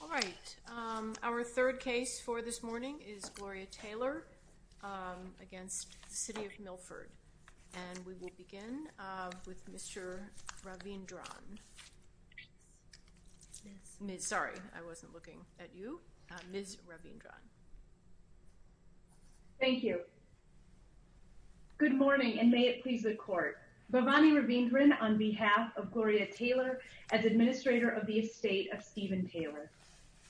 All right. Our third case for this morning is Gloria Taylor against City of Milford and we will begin with Mr. Ravindran. Sorry I wasn't looking at you. Ms. Ravindran. Thank you. Good morning and may it please the court. Bhavani Ravindran on behalf of Gloria Taylor as administrator of the estate of Stephen Taylor.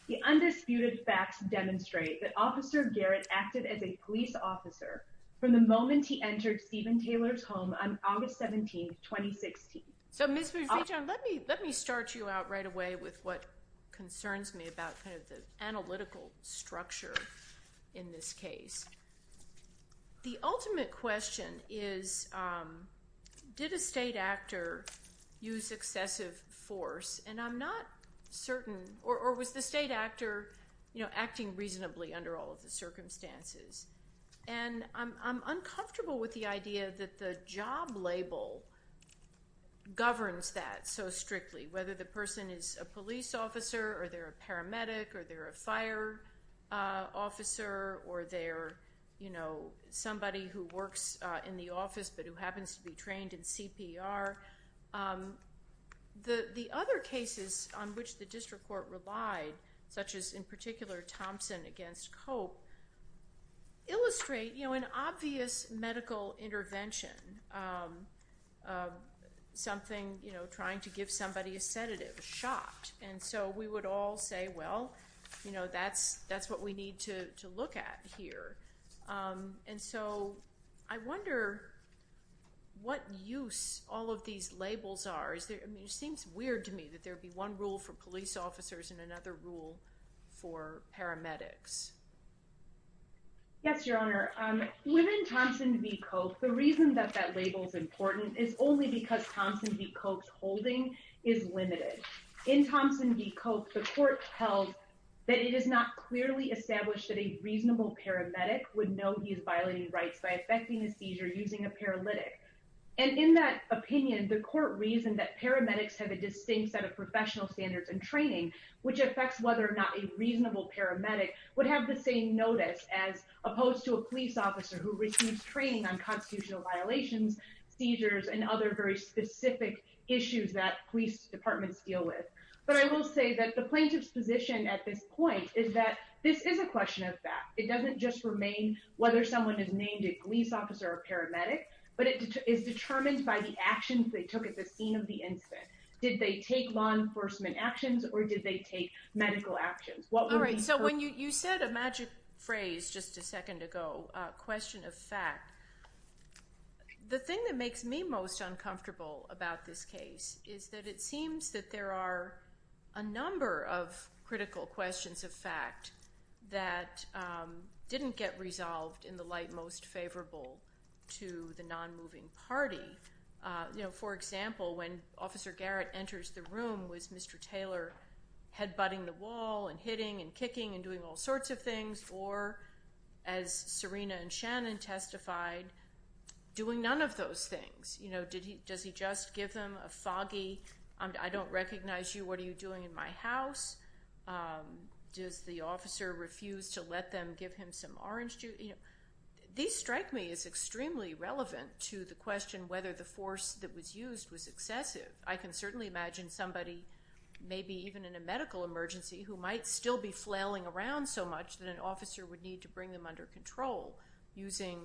The undisputed facts demonstrate that Officer Garrett acted as a police officer from the moment he entered Stephen Taylor's home on August 17, 2016. So Ms. Ravindran let me let me start you out right away with what concerns me about kind of the analytical structure in this case. The ultimate question is did a state actor use excessive force and I'm not certain or was the state actor you know acting reasonably under all of the circumstances and I'm uncomfortable with the idea that the job label governs that so strictly whether the person is a police officer or they're a paramedic or they're a fire officer or they're you know somebody who works in the office but who happens to be trained in CPR. The other cases on which the district court relied such as in particular Thompson against Cope illustrate you know an obvious medical intervention something you know trying to give somebody a sedative a shot and so we would all say well you know that's that's what we need to look at here and so I wonder what use all of these labels are is there I mean it seems weird to me that there would be one rule for police officers and another rule for paramedics. Yes your honor within Thompson v. Cope the reason that that label is important is only because Thompson v. Cope's training is limited. In Thompson v. Cope the court held that it is not clearly established that a reasonable paramedic would know he is violating rights by affecting the seizure using a paralytic and in that opinion the court reasoned that paramedics have a distinct set of professional standards and training which affects whether or not a reasonable paramedic would have the same notice as opposed to a police officer who receives training on constitutional violations seizures and other very specific issues that police departments deal with but I will say that the plaintiff's position at this point is that this is a question of fact it doesn't just remain whether someone is named a police officer or paramedic but it is determined by the actions they took at the scene of the incident did they take law enforcement actions or did they take medical actions. All right so when you said a magic phrase just a the thing that makes me most uncomfortable about this case is that it seems that there are a number of critical questions of fact that didn't get resolved in the light most favorable to the non-moving party you know for example when officer Garrett enters the room was Mr. Taylor head-butting the wall and hitting and kicking and doing all sorts of things or as Serena and doing none of those things you know did he does he just give them a foggy I don't recognize you what are you doing in my house does the officer refuse to let them give him some orange juice you know these strike me is extremely relevant to the question whether the force that was used was excessive I can certainly imagine somebody maybe even in a medical emergency who might still be flailing around so much that an officer would need to bring them under control using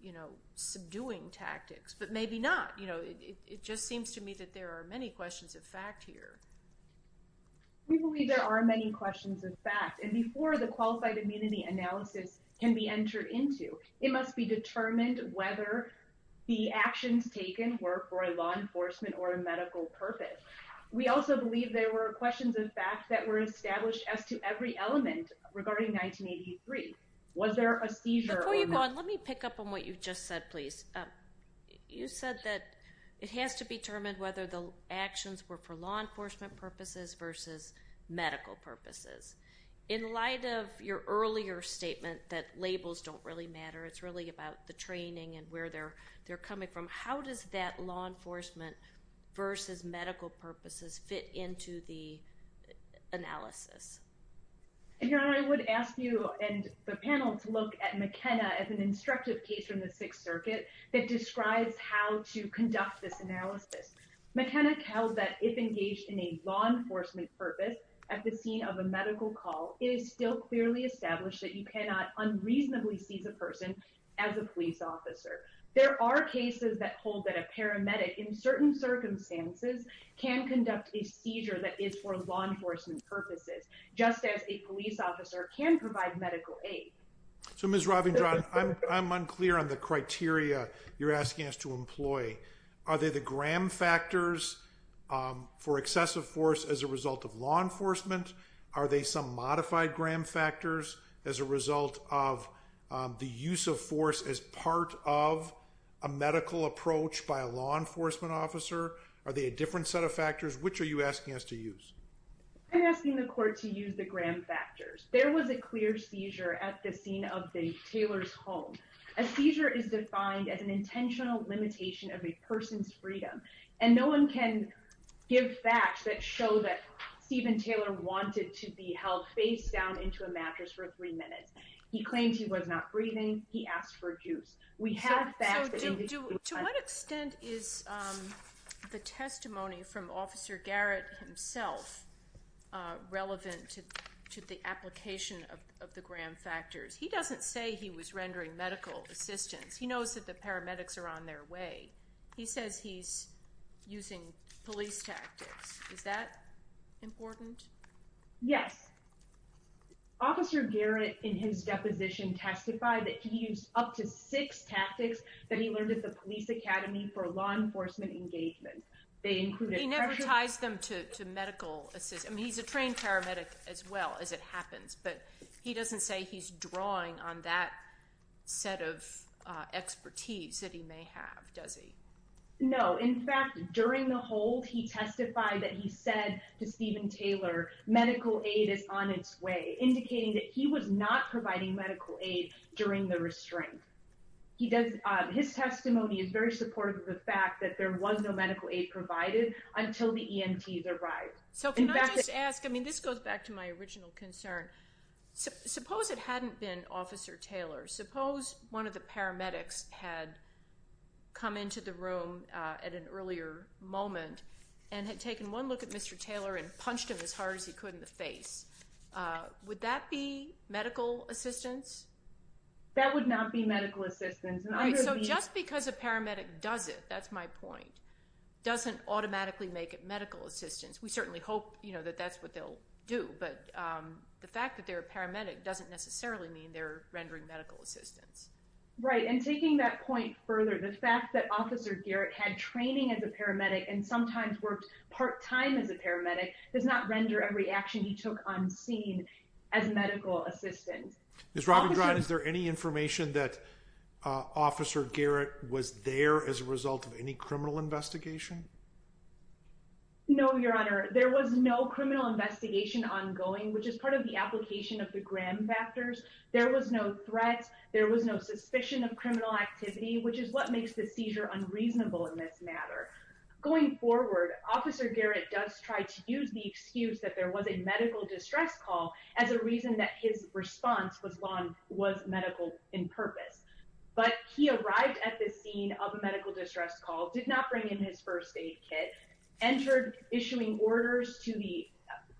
you know subduing tactics but maybe not you know it just seems to me that there are many questions of fact here we believe there are many questions of fact and before the qualified immunity analysis can be entered into it must be determined whether the actions taken were for law enforcement or a medical purpose we also believe there were questions in fact that were established as to every element regarding 1983 was there a seizure let me pick up on what you just said please you said that it has to be determined whether the actions were for law enforcement purposes versus medical purposes in light of your earlier statement that labels don't really matter it's really about the training and where they're they're coming from how does that law purposes fit into the analysis you know I would ask you and the panel to look at McKenna as an instructive case from the Sixth Circuit that describes how to conduct this analysis McKenna tells that if engaged in a law enforcement purpose at the scene of a medical call it is still clearly established that you cannot unreasonably seize a person as a police officer there are cases that hold that a paramedic in certain circumstances can conduct a seizure that is for law enforcement purposes just as a police officer can provide medical aid so mrs. Robin I'm unclear on the criteria you're asking us to employ are they the gram factors for excessive force as a result of law enforcement are they some modified gram factors as a result of the use of force as part of a law enforcement officer are they a different set of factors which are you asking us to use I'm asking the court to use the gram factors there was a clear seizure at the scene of the Taylor's home a seizure is defined as an intentional limitation of a person's freedom and no one can give facts that show that Steven Taylor wanted to be held face down into a mattress for three is the testimony from officer Garrett himself relevant to the application of the gram factors he doesn't say he was rendering medical assistance he knows that the paramedics are on their way he says he's using police tactics is that important yes officer Garrett in his deposition testified that he used up to six tactics that he learned at the police academy for law enforcement engagement they never ties them to medical assistant he's a trained paramedic as well as it happens but he doesn't say he's drawing on that set of expertise that he may have does he know in fact during the hold he testified that he said to Steven Taylor medical aid is on its way indicating that he was not providing medical aid during the restraint he does his testimony is very supportive of the fact that there was no medical aid provided until the EMTs arrived so can I just ask I mean this goes back to my original concern suppose it hadn't been officer Taylor suppose one of the paramedics had come into the room at an earlier moment and had taken one look at mr. Taylor and punched him as hard as he could in the face would that be medical assistance that would not be medical assistance so just because a paramedic does it that's my point doesn't automatically make it medical assistance we certainly hope you know that that's what they'll do but the fact that they're paramedic doesn't necessarily mean they're rendering medical assistance right and taking that point further the fact that officer Garrett had training as a paramedic and not render every action he took unseen as a medical assistant this Robin Ryan is there any information that officer Garrett was there as a result of any criminal investigation no your honor there was no criminal investigation ongoing which is part of the application of the Graham factors there was no threat there was no suspicion of criminal activity which is what makes the seizure unreasonable in this matter going forward officer Garrett does try to use the excuse that there was a medical distress call as a reason that his response was long was medical in purpose but he arrived at this scene of a medical distress call did not bring in his first aid kit entered issuing orders to the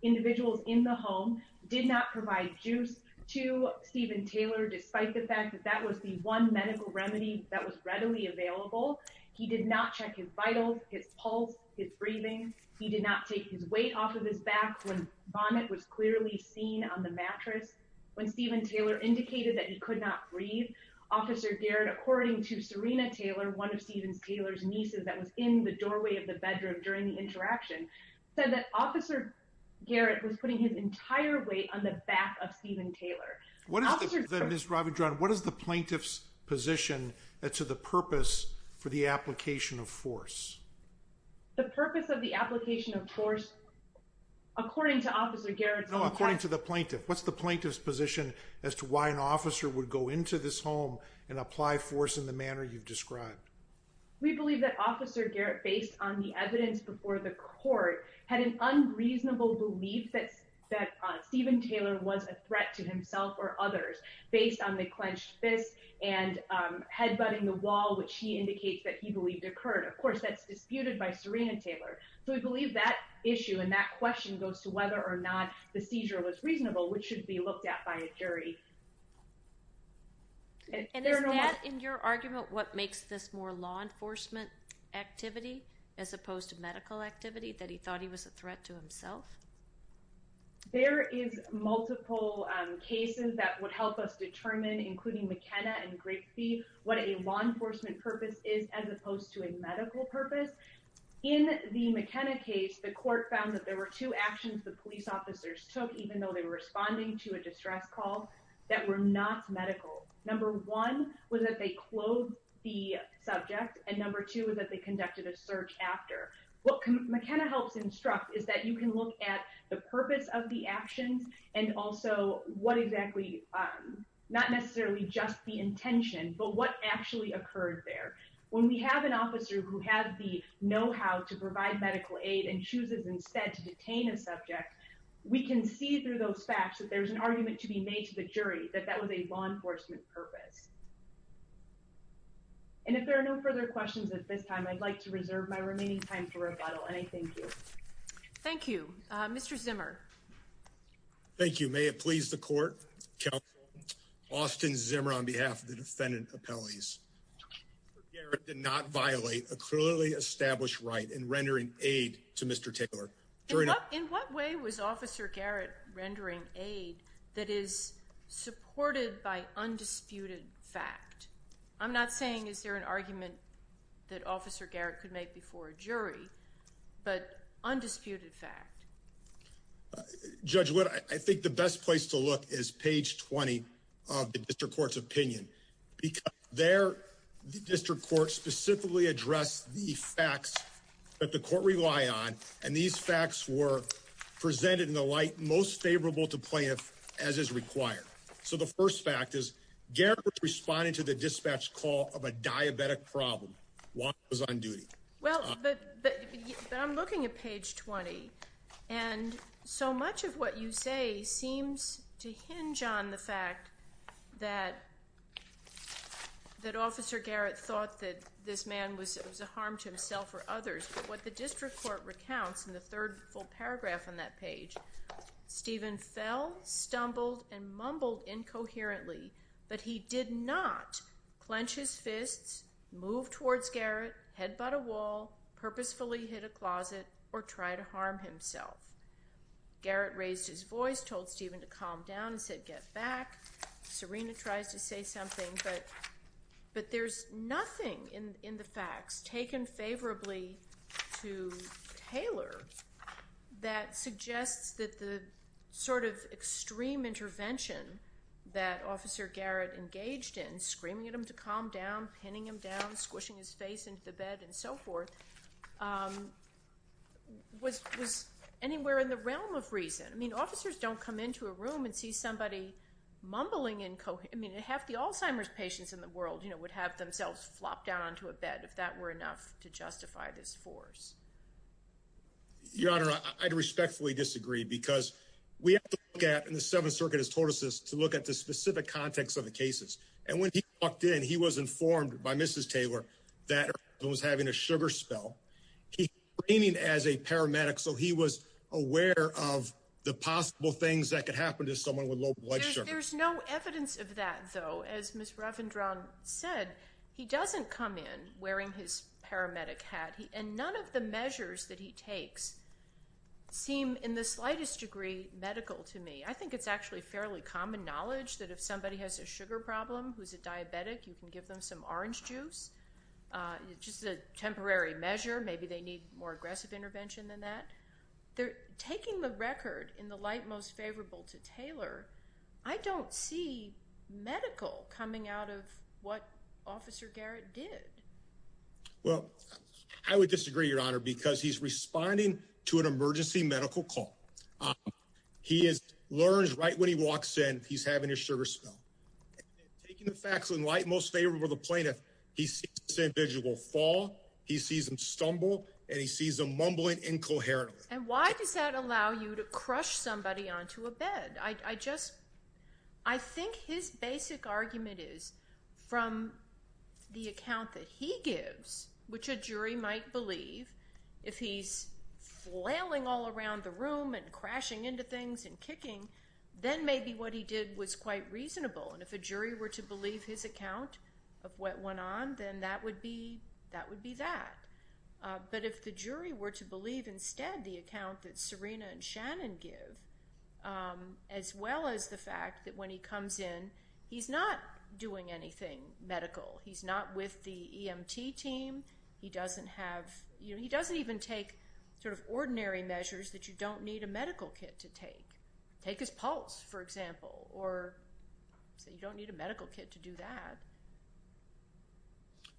individuals in the home did not provide juice to Steven Taylor despite the fact that that was the one medical remedy that was readily available he did not check his vitals his pulse his breathing he did not take his weight off of his back when vomit was clearly seen on the mattress when Steven Taylor indicated that he could not breathe officer Garrett according to Serena Taylor one of Steven's Taylor's nieces that was in the doorway of the bedroom during the interaction said that officer Garrett was putting his entire weight on the back of Steven Taylor what is this Robin John what is the plaintiff's position that to the purpose for the application of force the purpose of the application of force according to officer Garrett according to the plaintiff what's the plaintiff's position as to why an officer would go into this home and apply force in the manner you've described we believe that officer Garrett based on the evidence before the court had an unreasonable belief that that Steven Taylor was a threat to himself or others based on the head butting the wall which he indicates that he believed occurred of course that's disputed by Serena Taylor so we believe that issue and that question goes to whether or not the seizure was reasonable which should be looked at by a jury and in your argument what makes this more law enforcement activity as opposed to medical activity that he thought he was a threat to himself there is multiple cases that would help us determine including McKenna and grape what a law enforcement purpose is as opposed to a medical purpose in the McKenna case the court found that there were two actions the police officers took even though they were responding to a distress call that were not medical number one was that they closed the subject and number two is that they conducted a search after what McKenna helps instruct is that you can look at the purpose of the actions and also what exactly not necessarily just the but what actually occurred there when we have an officer who has the know-how to provide medical aid and chooses instead to detain a subject we can see through those facts that there's an argument to be made to the jury that that was a law enforcement purpose and if there are no further questions at this time I'd like to reserve my remaining time for a bottle and I thank you thank you mr. Zimmer thank you may it please the court Austin Zimmer on behalf of the defendant appellees did not violate a clearly established right in rendering aid to mr. tickler during up in what way was officer Garrett rendering aid that is supported by undisputed fact I'm not saying is there an argument that officer Garrett could make before a jury but I'm looking at page 20 and so much of what you say seems to hinge on the fact that that officer Garrett thought that this man was it was a harm to himself or others but what the district court recounts in the third full paragraph on that page Stephen fell stumbled and mumbled incoherently but he did not clench his fists move towards Garrett head but a wall purposefully hit a closet or try to harm himself Garrett raised his voice told Stephen to calm down and said get back Serena tries to say something but but there's nothing in in the facts taken favorably to Taylor that suggests that the sort of extreme intervention that officer Garrett engaged in screaming at him to calm down pinning him down squishing his face into the bed and so forth was was anywhere in the realm of reason I mean officers don't come into a room and see somebody mumbling in Co I mean half the Alzheimer's patients in the world you know would have themselves flopped down onto a bed if that were enough to justify this force your honor I'd respectfully disagree because we get in the Seventh Circuit has told us this to look at the specific context of the cases and when he walked in he was informed by mrs. Taylor that was having a sugar spell he came in as a paramedic so he was aware of the possible things that could happen to someone with low blood sugar there's no evidence of that though as miss Ravindran said he doesn't come in wearing his paramedic hat he and none of the measures that he takes seem in the slightest degree medical to me I think it's actually fairly common knowledge that if somebody has a sugar problem who's a diabetic you can give them some orange juice it's just a temporary measure maybe they need more aggressive intervention than that they're taking the record in the light most favorable to Taylor I don't see medical coming out of what officer Garrett did well I would disagree your honor because he's responding to an emergency medical call he is learns right when he walks in he's having a sugar spell taking the facts in light most favorable the plaintiff he said visual fall he sees him stumble and he sees a mumbling incoherent and why does that allow you to crush somebody onto a bed I just I think his basic argument is from the account that he gives which a jury might believe if he's flailing all around the room and crashing into things and was quite reasonable and if a jury were to believe his account of what went on then that would be that would be that but if the jury were to believe instead the account that Serena and Shannon give as well as the fact that when he comes in he's not doing anything medical he's not with the EMT team he doesn't have you know he doesn't even take sort of ordinary measures that you don't need a or so you don't need a medical kit to do that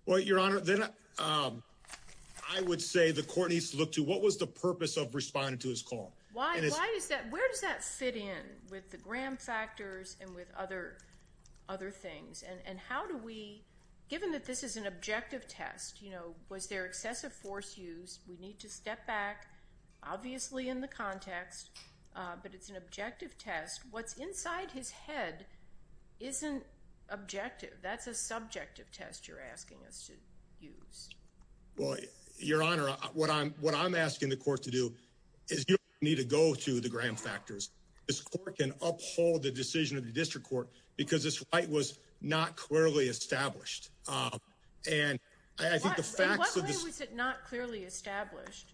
well your honor then I would say the court needs to look to what was the purpose of responding to his call why is that where does that fit in with the gram factors and with other other things and and how do we given that this is an objective test you know was there excessive force use we need to step back obviously in the context but it's an isn't objective that's a subjective test you're asking us to use well your honor what I'm what I'm asking the court to do is you need to go to the gram factors this court can uphold the decision of the district court because this fight was not clearly established and I think the facts of this not clearly established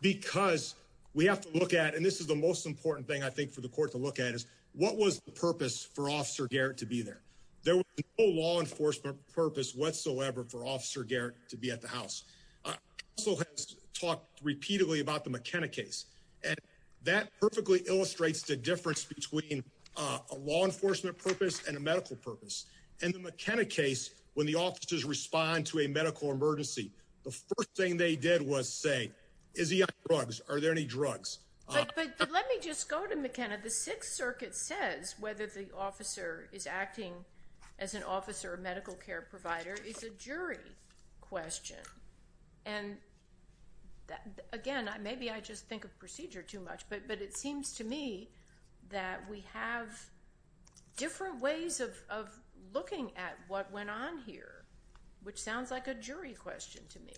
because we have to look at and this is the most important thing I think for the court to look at is what was the purpose for officer Garrett to be there there was no law enforcement purpose whatsoever for officer Garrett to be at the house so has talked repeatedly about the McKenna case and that perfectly illustrates the difference between a law enforcement purpose and a medical purpose and the McKenna case when the officers respond to a medical emergency the first thing they did was say is he on drugs are let me just go to McKenna the Sixth Circuit says whether the officer is acting as an officer or medical care provider it's a jury question and that again I maybe I just think of procedure too much but but it seems to me that we have different ways of looking at what went on here which sounds like a jury question to me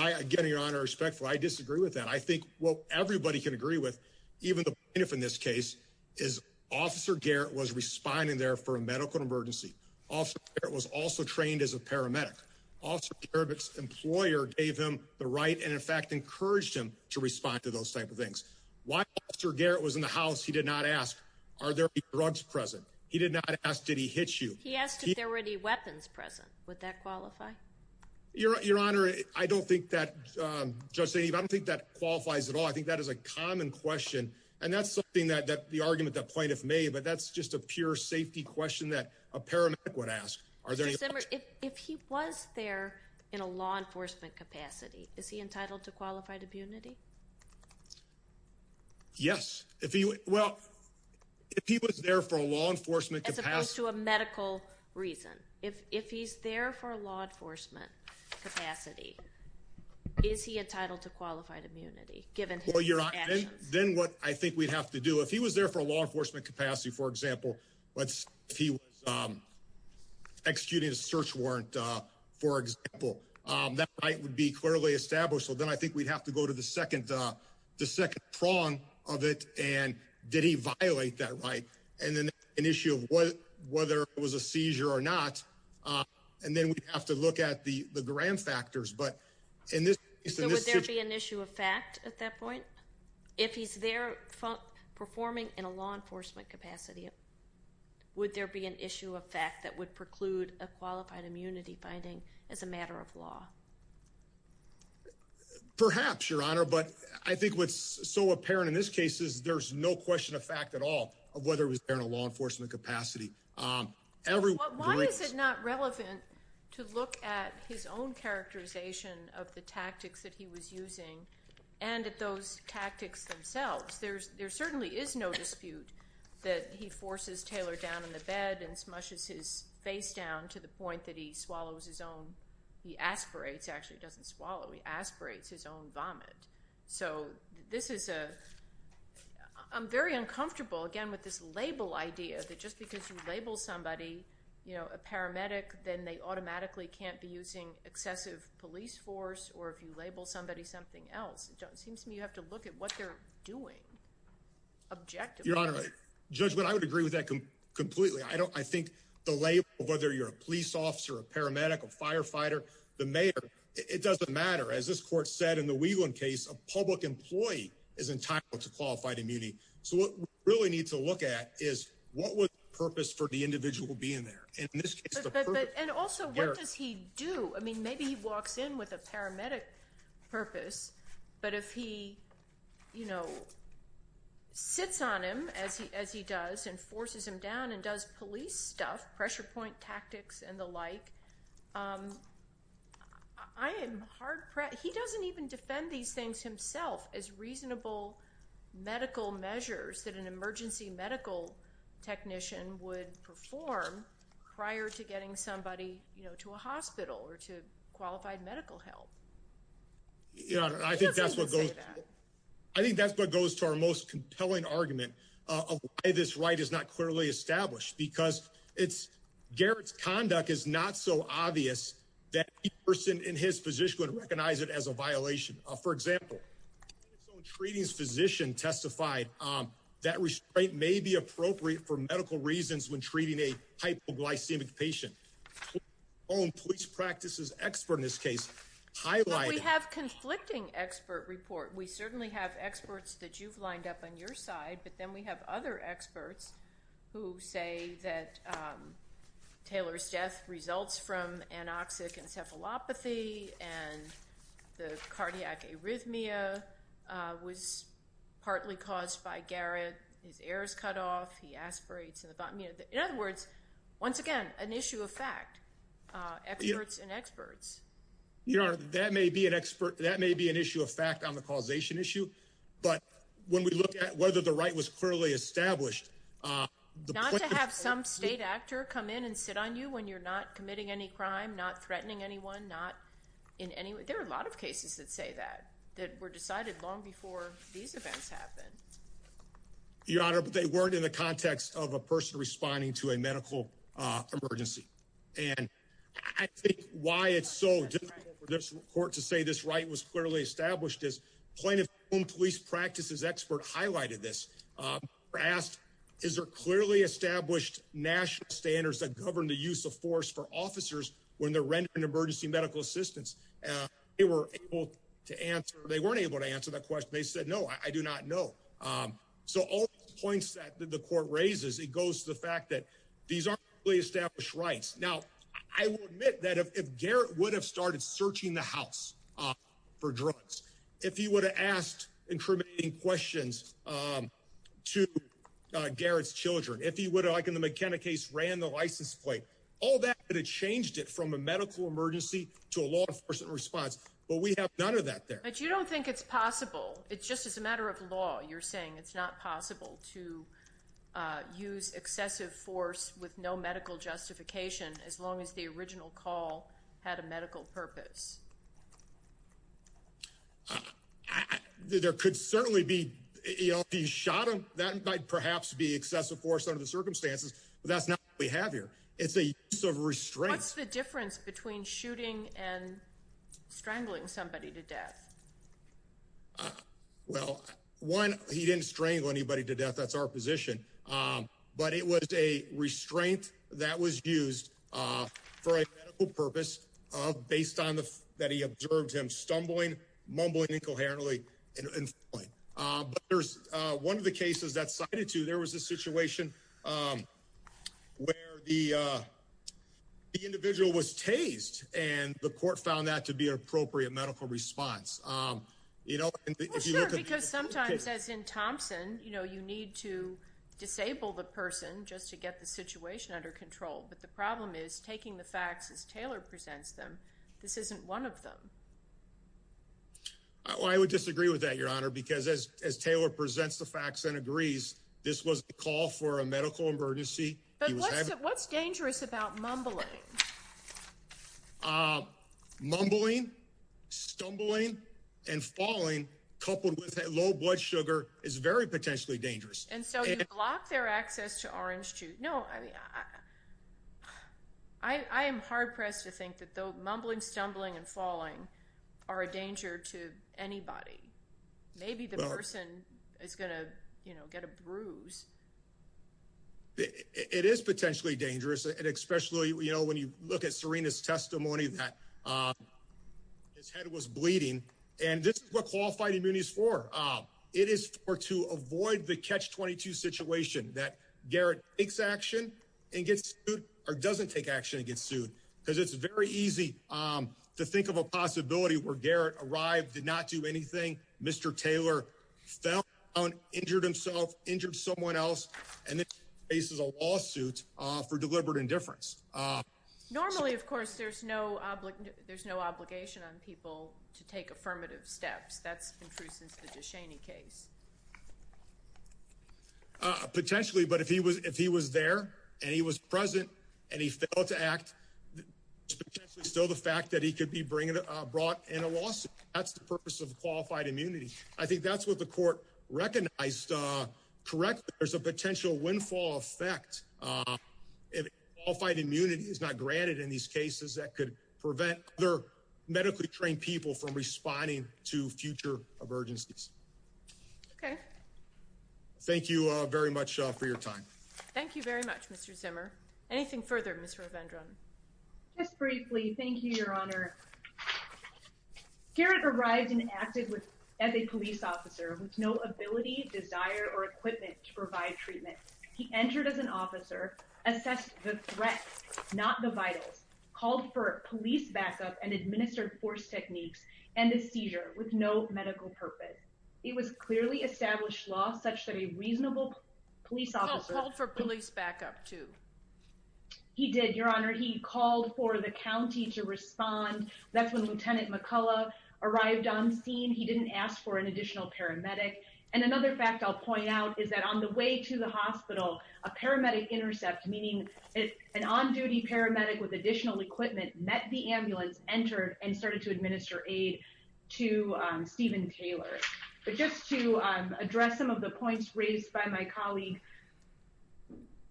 I get your honor respectful I disagree with that I think well everybody can agree with even the enough in this case is officer Garrett was responding there for a medical emergency also it was also trained as a paramedic officer Eric's employer gave him the right and in fact encouraged him to respond to those type of things why sir Garrett was in the house he did not ask are there drugs present he did not ask did he hit you he asked if there were any weapons present would that qualify your honor I don't think that just say you don't think that qualifies at all I think that is a common question and that's something that that the argument that plaintiff may but that's just a pure safety question that a paramedic would ask are there if he was there in a law enforcement capacity is he entitled to qualified immunity yes if you well if he was there for a law enforcement as opposed to a medical reason if if he's there for a law enforcement capacity is he entitled to qualified immunity given for your then what I think we'd have to do if he was there for a law enforcement capacity for example let's he was executing a search warrant for example that right would be clearly established so then I think we'd have to go to the second the second prong of it and did he violate that and then an issue of what whether it was a seizure or not and then we have to look at the the grand factors but in this issue of fact at that point if he's there performing in a law enforcement capacity would there be an issue of fact that would preclude a qualified immunity finding as a matter of law perhaps your honor but I think what's so apparent in this case is there's no question of fact at all of whether it was there in a law enforcement capacity everyone is it not relevant to look at his own characterization of the tactics that he was using and at those tactics themselves there's there certainly is no dispute that he forces Taylor down in the bed and smushes his face down to the point that he swallows his own he aspirates actually doesn't swallow he I'm very uncomfortable again with this label idea that just because you label somebody you know a paramedic then they automatically can't be using excessive police force or if you label somebody something else it seems to me you have to look at what they're doing objectively your honor a judgment I would agree with that completely I don't I think the label whether you're a police officer a paramedic a firefighter the mayor it doesn't matter as this case a public employee is entitled to qualified immunity so what really needs to look at is what was purpose for the individual being there and also what does he do I mean maybe he walks in with a paramedic purpose but if he you know sits on him as he as he does and forces him down and does police stuff pressure point tactics and the like I am hard he doesn't even defend these things himself as reasonable medical measures that an emergency medical technician would perform prior to getting somebody you know to a hospital or to qualified medical help you know I think that's what goes I think that's what goes to our most compelling argument this right is not clearly established because it's Garrett's conduct is not so obvious that person in his position would recognize it as a violation for example treating physician testified that restraint may be appropriate for medical reasons when treating a hypoglycemic patient own police practices expert in this case I like we have conflicting expert report we certainly have experts that you've lined up on your side but then we have other experts who say that Taylor's death results from anoxic encephalopathy and the cardiac arrhythmia was partly caused by Garrett his ears cut off he aspirates in the bottom you know in other words once again an issue of fact experts and experts you know that may be an expert that may be an issue of fact on the causation issue but when we look at whether the right was clearly established not to have some state actor come in and sit on you when you're not committing any crime not threatening anyone not in any way there are a lot of cases that say that that were decided long before these events happen your honor but they weren't in the context of a person responding to a medical emergency and I think why it's so difficult for this report to say this right was clearly established as plaintiff whom police practices expert highlighted this asked is there clearly established national standards that govern the use of force for officers when the rent an emergency medical assistance they were able to answer they weren't able to answer that question they said no I do not know so all points that the court raises it goes to the fact that these are really established rights now I would admit that if Garrett would have started searching the house for drugs if he would have asked incriminating questions to Garrett's children if he would like in the McKenna case ran the license plate all that but it changed it from a medical emergency to a law enforcement response but we have none of that there but you don't think it's possible it's just as a matter of law you're saying it's not possible to use excessive force with no medical justification as long as the could certainly be he shot him that might perhaps be excessive force under the circumstances that's not we have here it's a sort of restraints the difference between shooting and strangling somebody to death well one he didn't strangle anybody to death that's our position but it was a restraint that was used for a purpose of based on the that he observed him stumbling mumbling incoherently and there's one of the cases that cited to there was a situation where the individual was tased and the court found that to be an appropriate medical response you know because sometimes as in Thompson you know you need to disable the person just to get the situation under control but the problem is taking the facts as Taylor presents them this isn't one of them I would disagree with that your honor because as Taylor presents the facts and agrees this was the call for a medical emergency what's dangerous about mumbling mumbling stumbling and falling coupled with a low blood sugar is very potentially dangerous and so you block their access to orange juice no I I am hard-pressed to think that though mumbling stumbling and falling are a danger to anybody maybe the person is gonna you know get a bruise it is potentially dangerous and especially you know when you look at Serena's testimony that his head was bleeding and this is what qualified immunity is for it is for to avoid the catch-22 situation that Garrett takes action and gets good or because it's very easy to think of a possibility where Garrett arrived did not do anything mr. Taylor fell on injured himself injured someone else and this is a lawsuit for deliberate indifference normally of course there's no there's no obligation on people to take affirmative steps that's been true since the Ducheney case potentially but if he was if he was there and he was present and he felt act so the fact that he could be bringing it brought in a lawsuit that's the purpose of qualified immunity I think that's what the court recognized correct there's a potential windfall effect if all fight immunity is not granted in these cases that could prevent their medically trained people from responding to future of urgencies okay thank you very much for your time thank you very much mr. Zimmer anything further mr. Vendron just briefly thank you your honor Garrett arrived and acted with as a police officer with no ability desire or equipment to provide treatment he entered as an officer assessed the threat not the vitals called for police backup and administered force techniques and the seizure with no medical purpose it was clearly established law such that a reasonable police officer for police backup to he did your honor he called for the county to respond that's when lieutenant McCullough arrived on scene he didn't ask for an additional paramedic and another fact I'll point out is that on the way to the hospital a paramedic intercept meaning it's an on-duty paramedic with additional equipment met the ambulance entered and started to administer aid to Steven Taylor but just to address some of the points raised by my colleague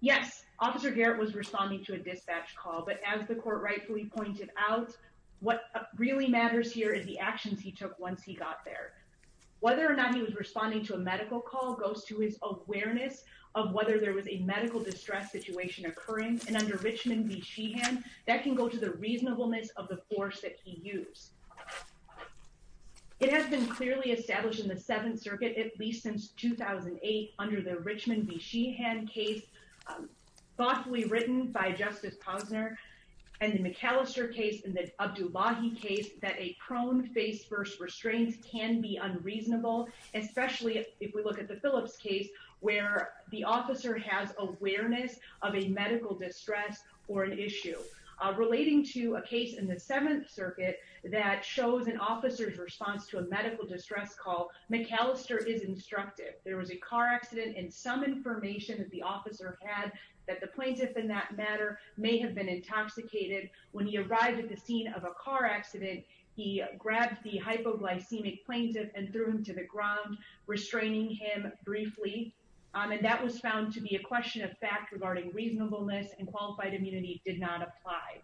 yes officer Garrett was responding to a dispatch call but as the court rightfully pointed out what really matters here is the actions he took once he got there whether or not he was responding to a medical call goes to his awareness of whether there was a medical distress situation occurring and under Richmond v. Sheehan that can go to the reasonableness of the force that he used it has been clearly established in the Seventh Circuit at least since 2008 under the Richmond v. Sheehan case thoughtfully written by Justice Posner and the McAllister case in the Abdullahi case that a prone face first restraints can be unreasonable especially if we look at the Phillips case where the officer has awareness of a medical distress or an issue relating to a case in the Seventh Circuit that shows an officer's response to a medical distress call McAllister is instructive there was a car accident and some information that the officer had that the plaintiff in that matter may have been intoxicated when he arrived at the scene of a car accident he grabbed the hypoglycemic plaintiff and threw him to the ground restraining him briefly and that was found to be a question of fact regarding reasonableness and qualified immunity did not apply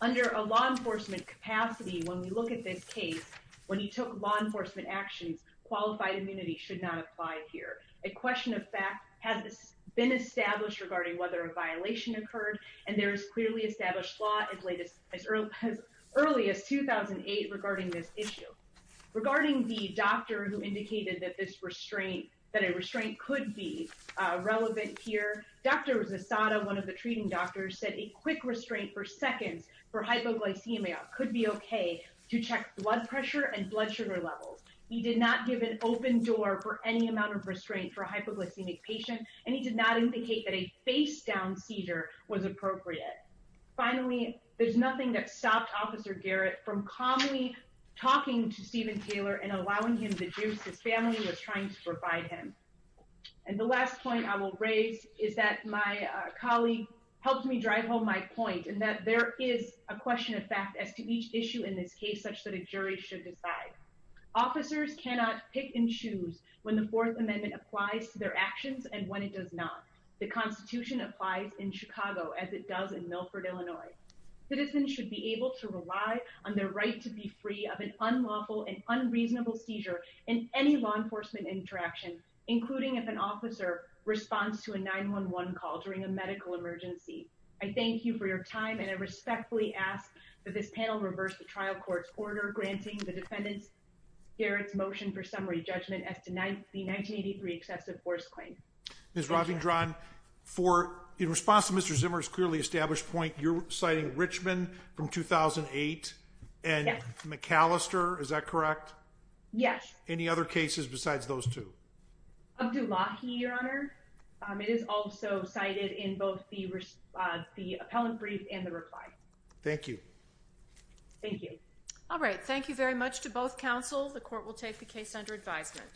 under a law enforcement capacity when we look at this case when you took law enforcement actions qualified immunity should not apply here a question of fact has this been established regarding whether a violation occurred and there is clearly established law as late as early as 2008 regarding this issue regarding the doctor who indicated that this restraint that a restraint could be relevant here Dr. Zasada one of the treating doctors said a quick restraint for seconds for hypoglycemia could be okay to check blood pressure and blood sugar levels he did not give an open door for any amount of restraint for a hypoglycemic patient and he did not indicate that a face down seizure was appropriate finally there's nothing that stopped officer Garrett from calmly talking to Steven Taylor and allowing him to juice his family was trying to provide him and the last point I will raise is that my colleague helped me drive home my point and that there is a question of fact as to each issue in this case such that a jury should decide officers cannot pick and choose when the 4th Amendment applies their actions and when it does not the Constitution applies in Chicago as it does in Milford Illinois. It is and should be able to rely on their right to be free of an unlawful and unreasonable seizure in any law enforcement interaction, including an officer responds to a 9-1-1 call during a medical emergency I thank you for your time and I respectfully ask that this panel reverse the trial court's order granting the defendants Garrett's motion for summary judgment as tonight the 1983 excessive force claim. Ms. Ravindran for in response to Mr. Zimmer's clearly established point you're citing Richmond from 2008 and McAllister is that correct? Yes. Any other cases besides those two? Abdullahi, your honor. It is also cited in both the appellant brief and the reply. Thank you. Thank you. All right, thank you very much to both counsel. The court will take the case under advisement.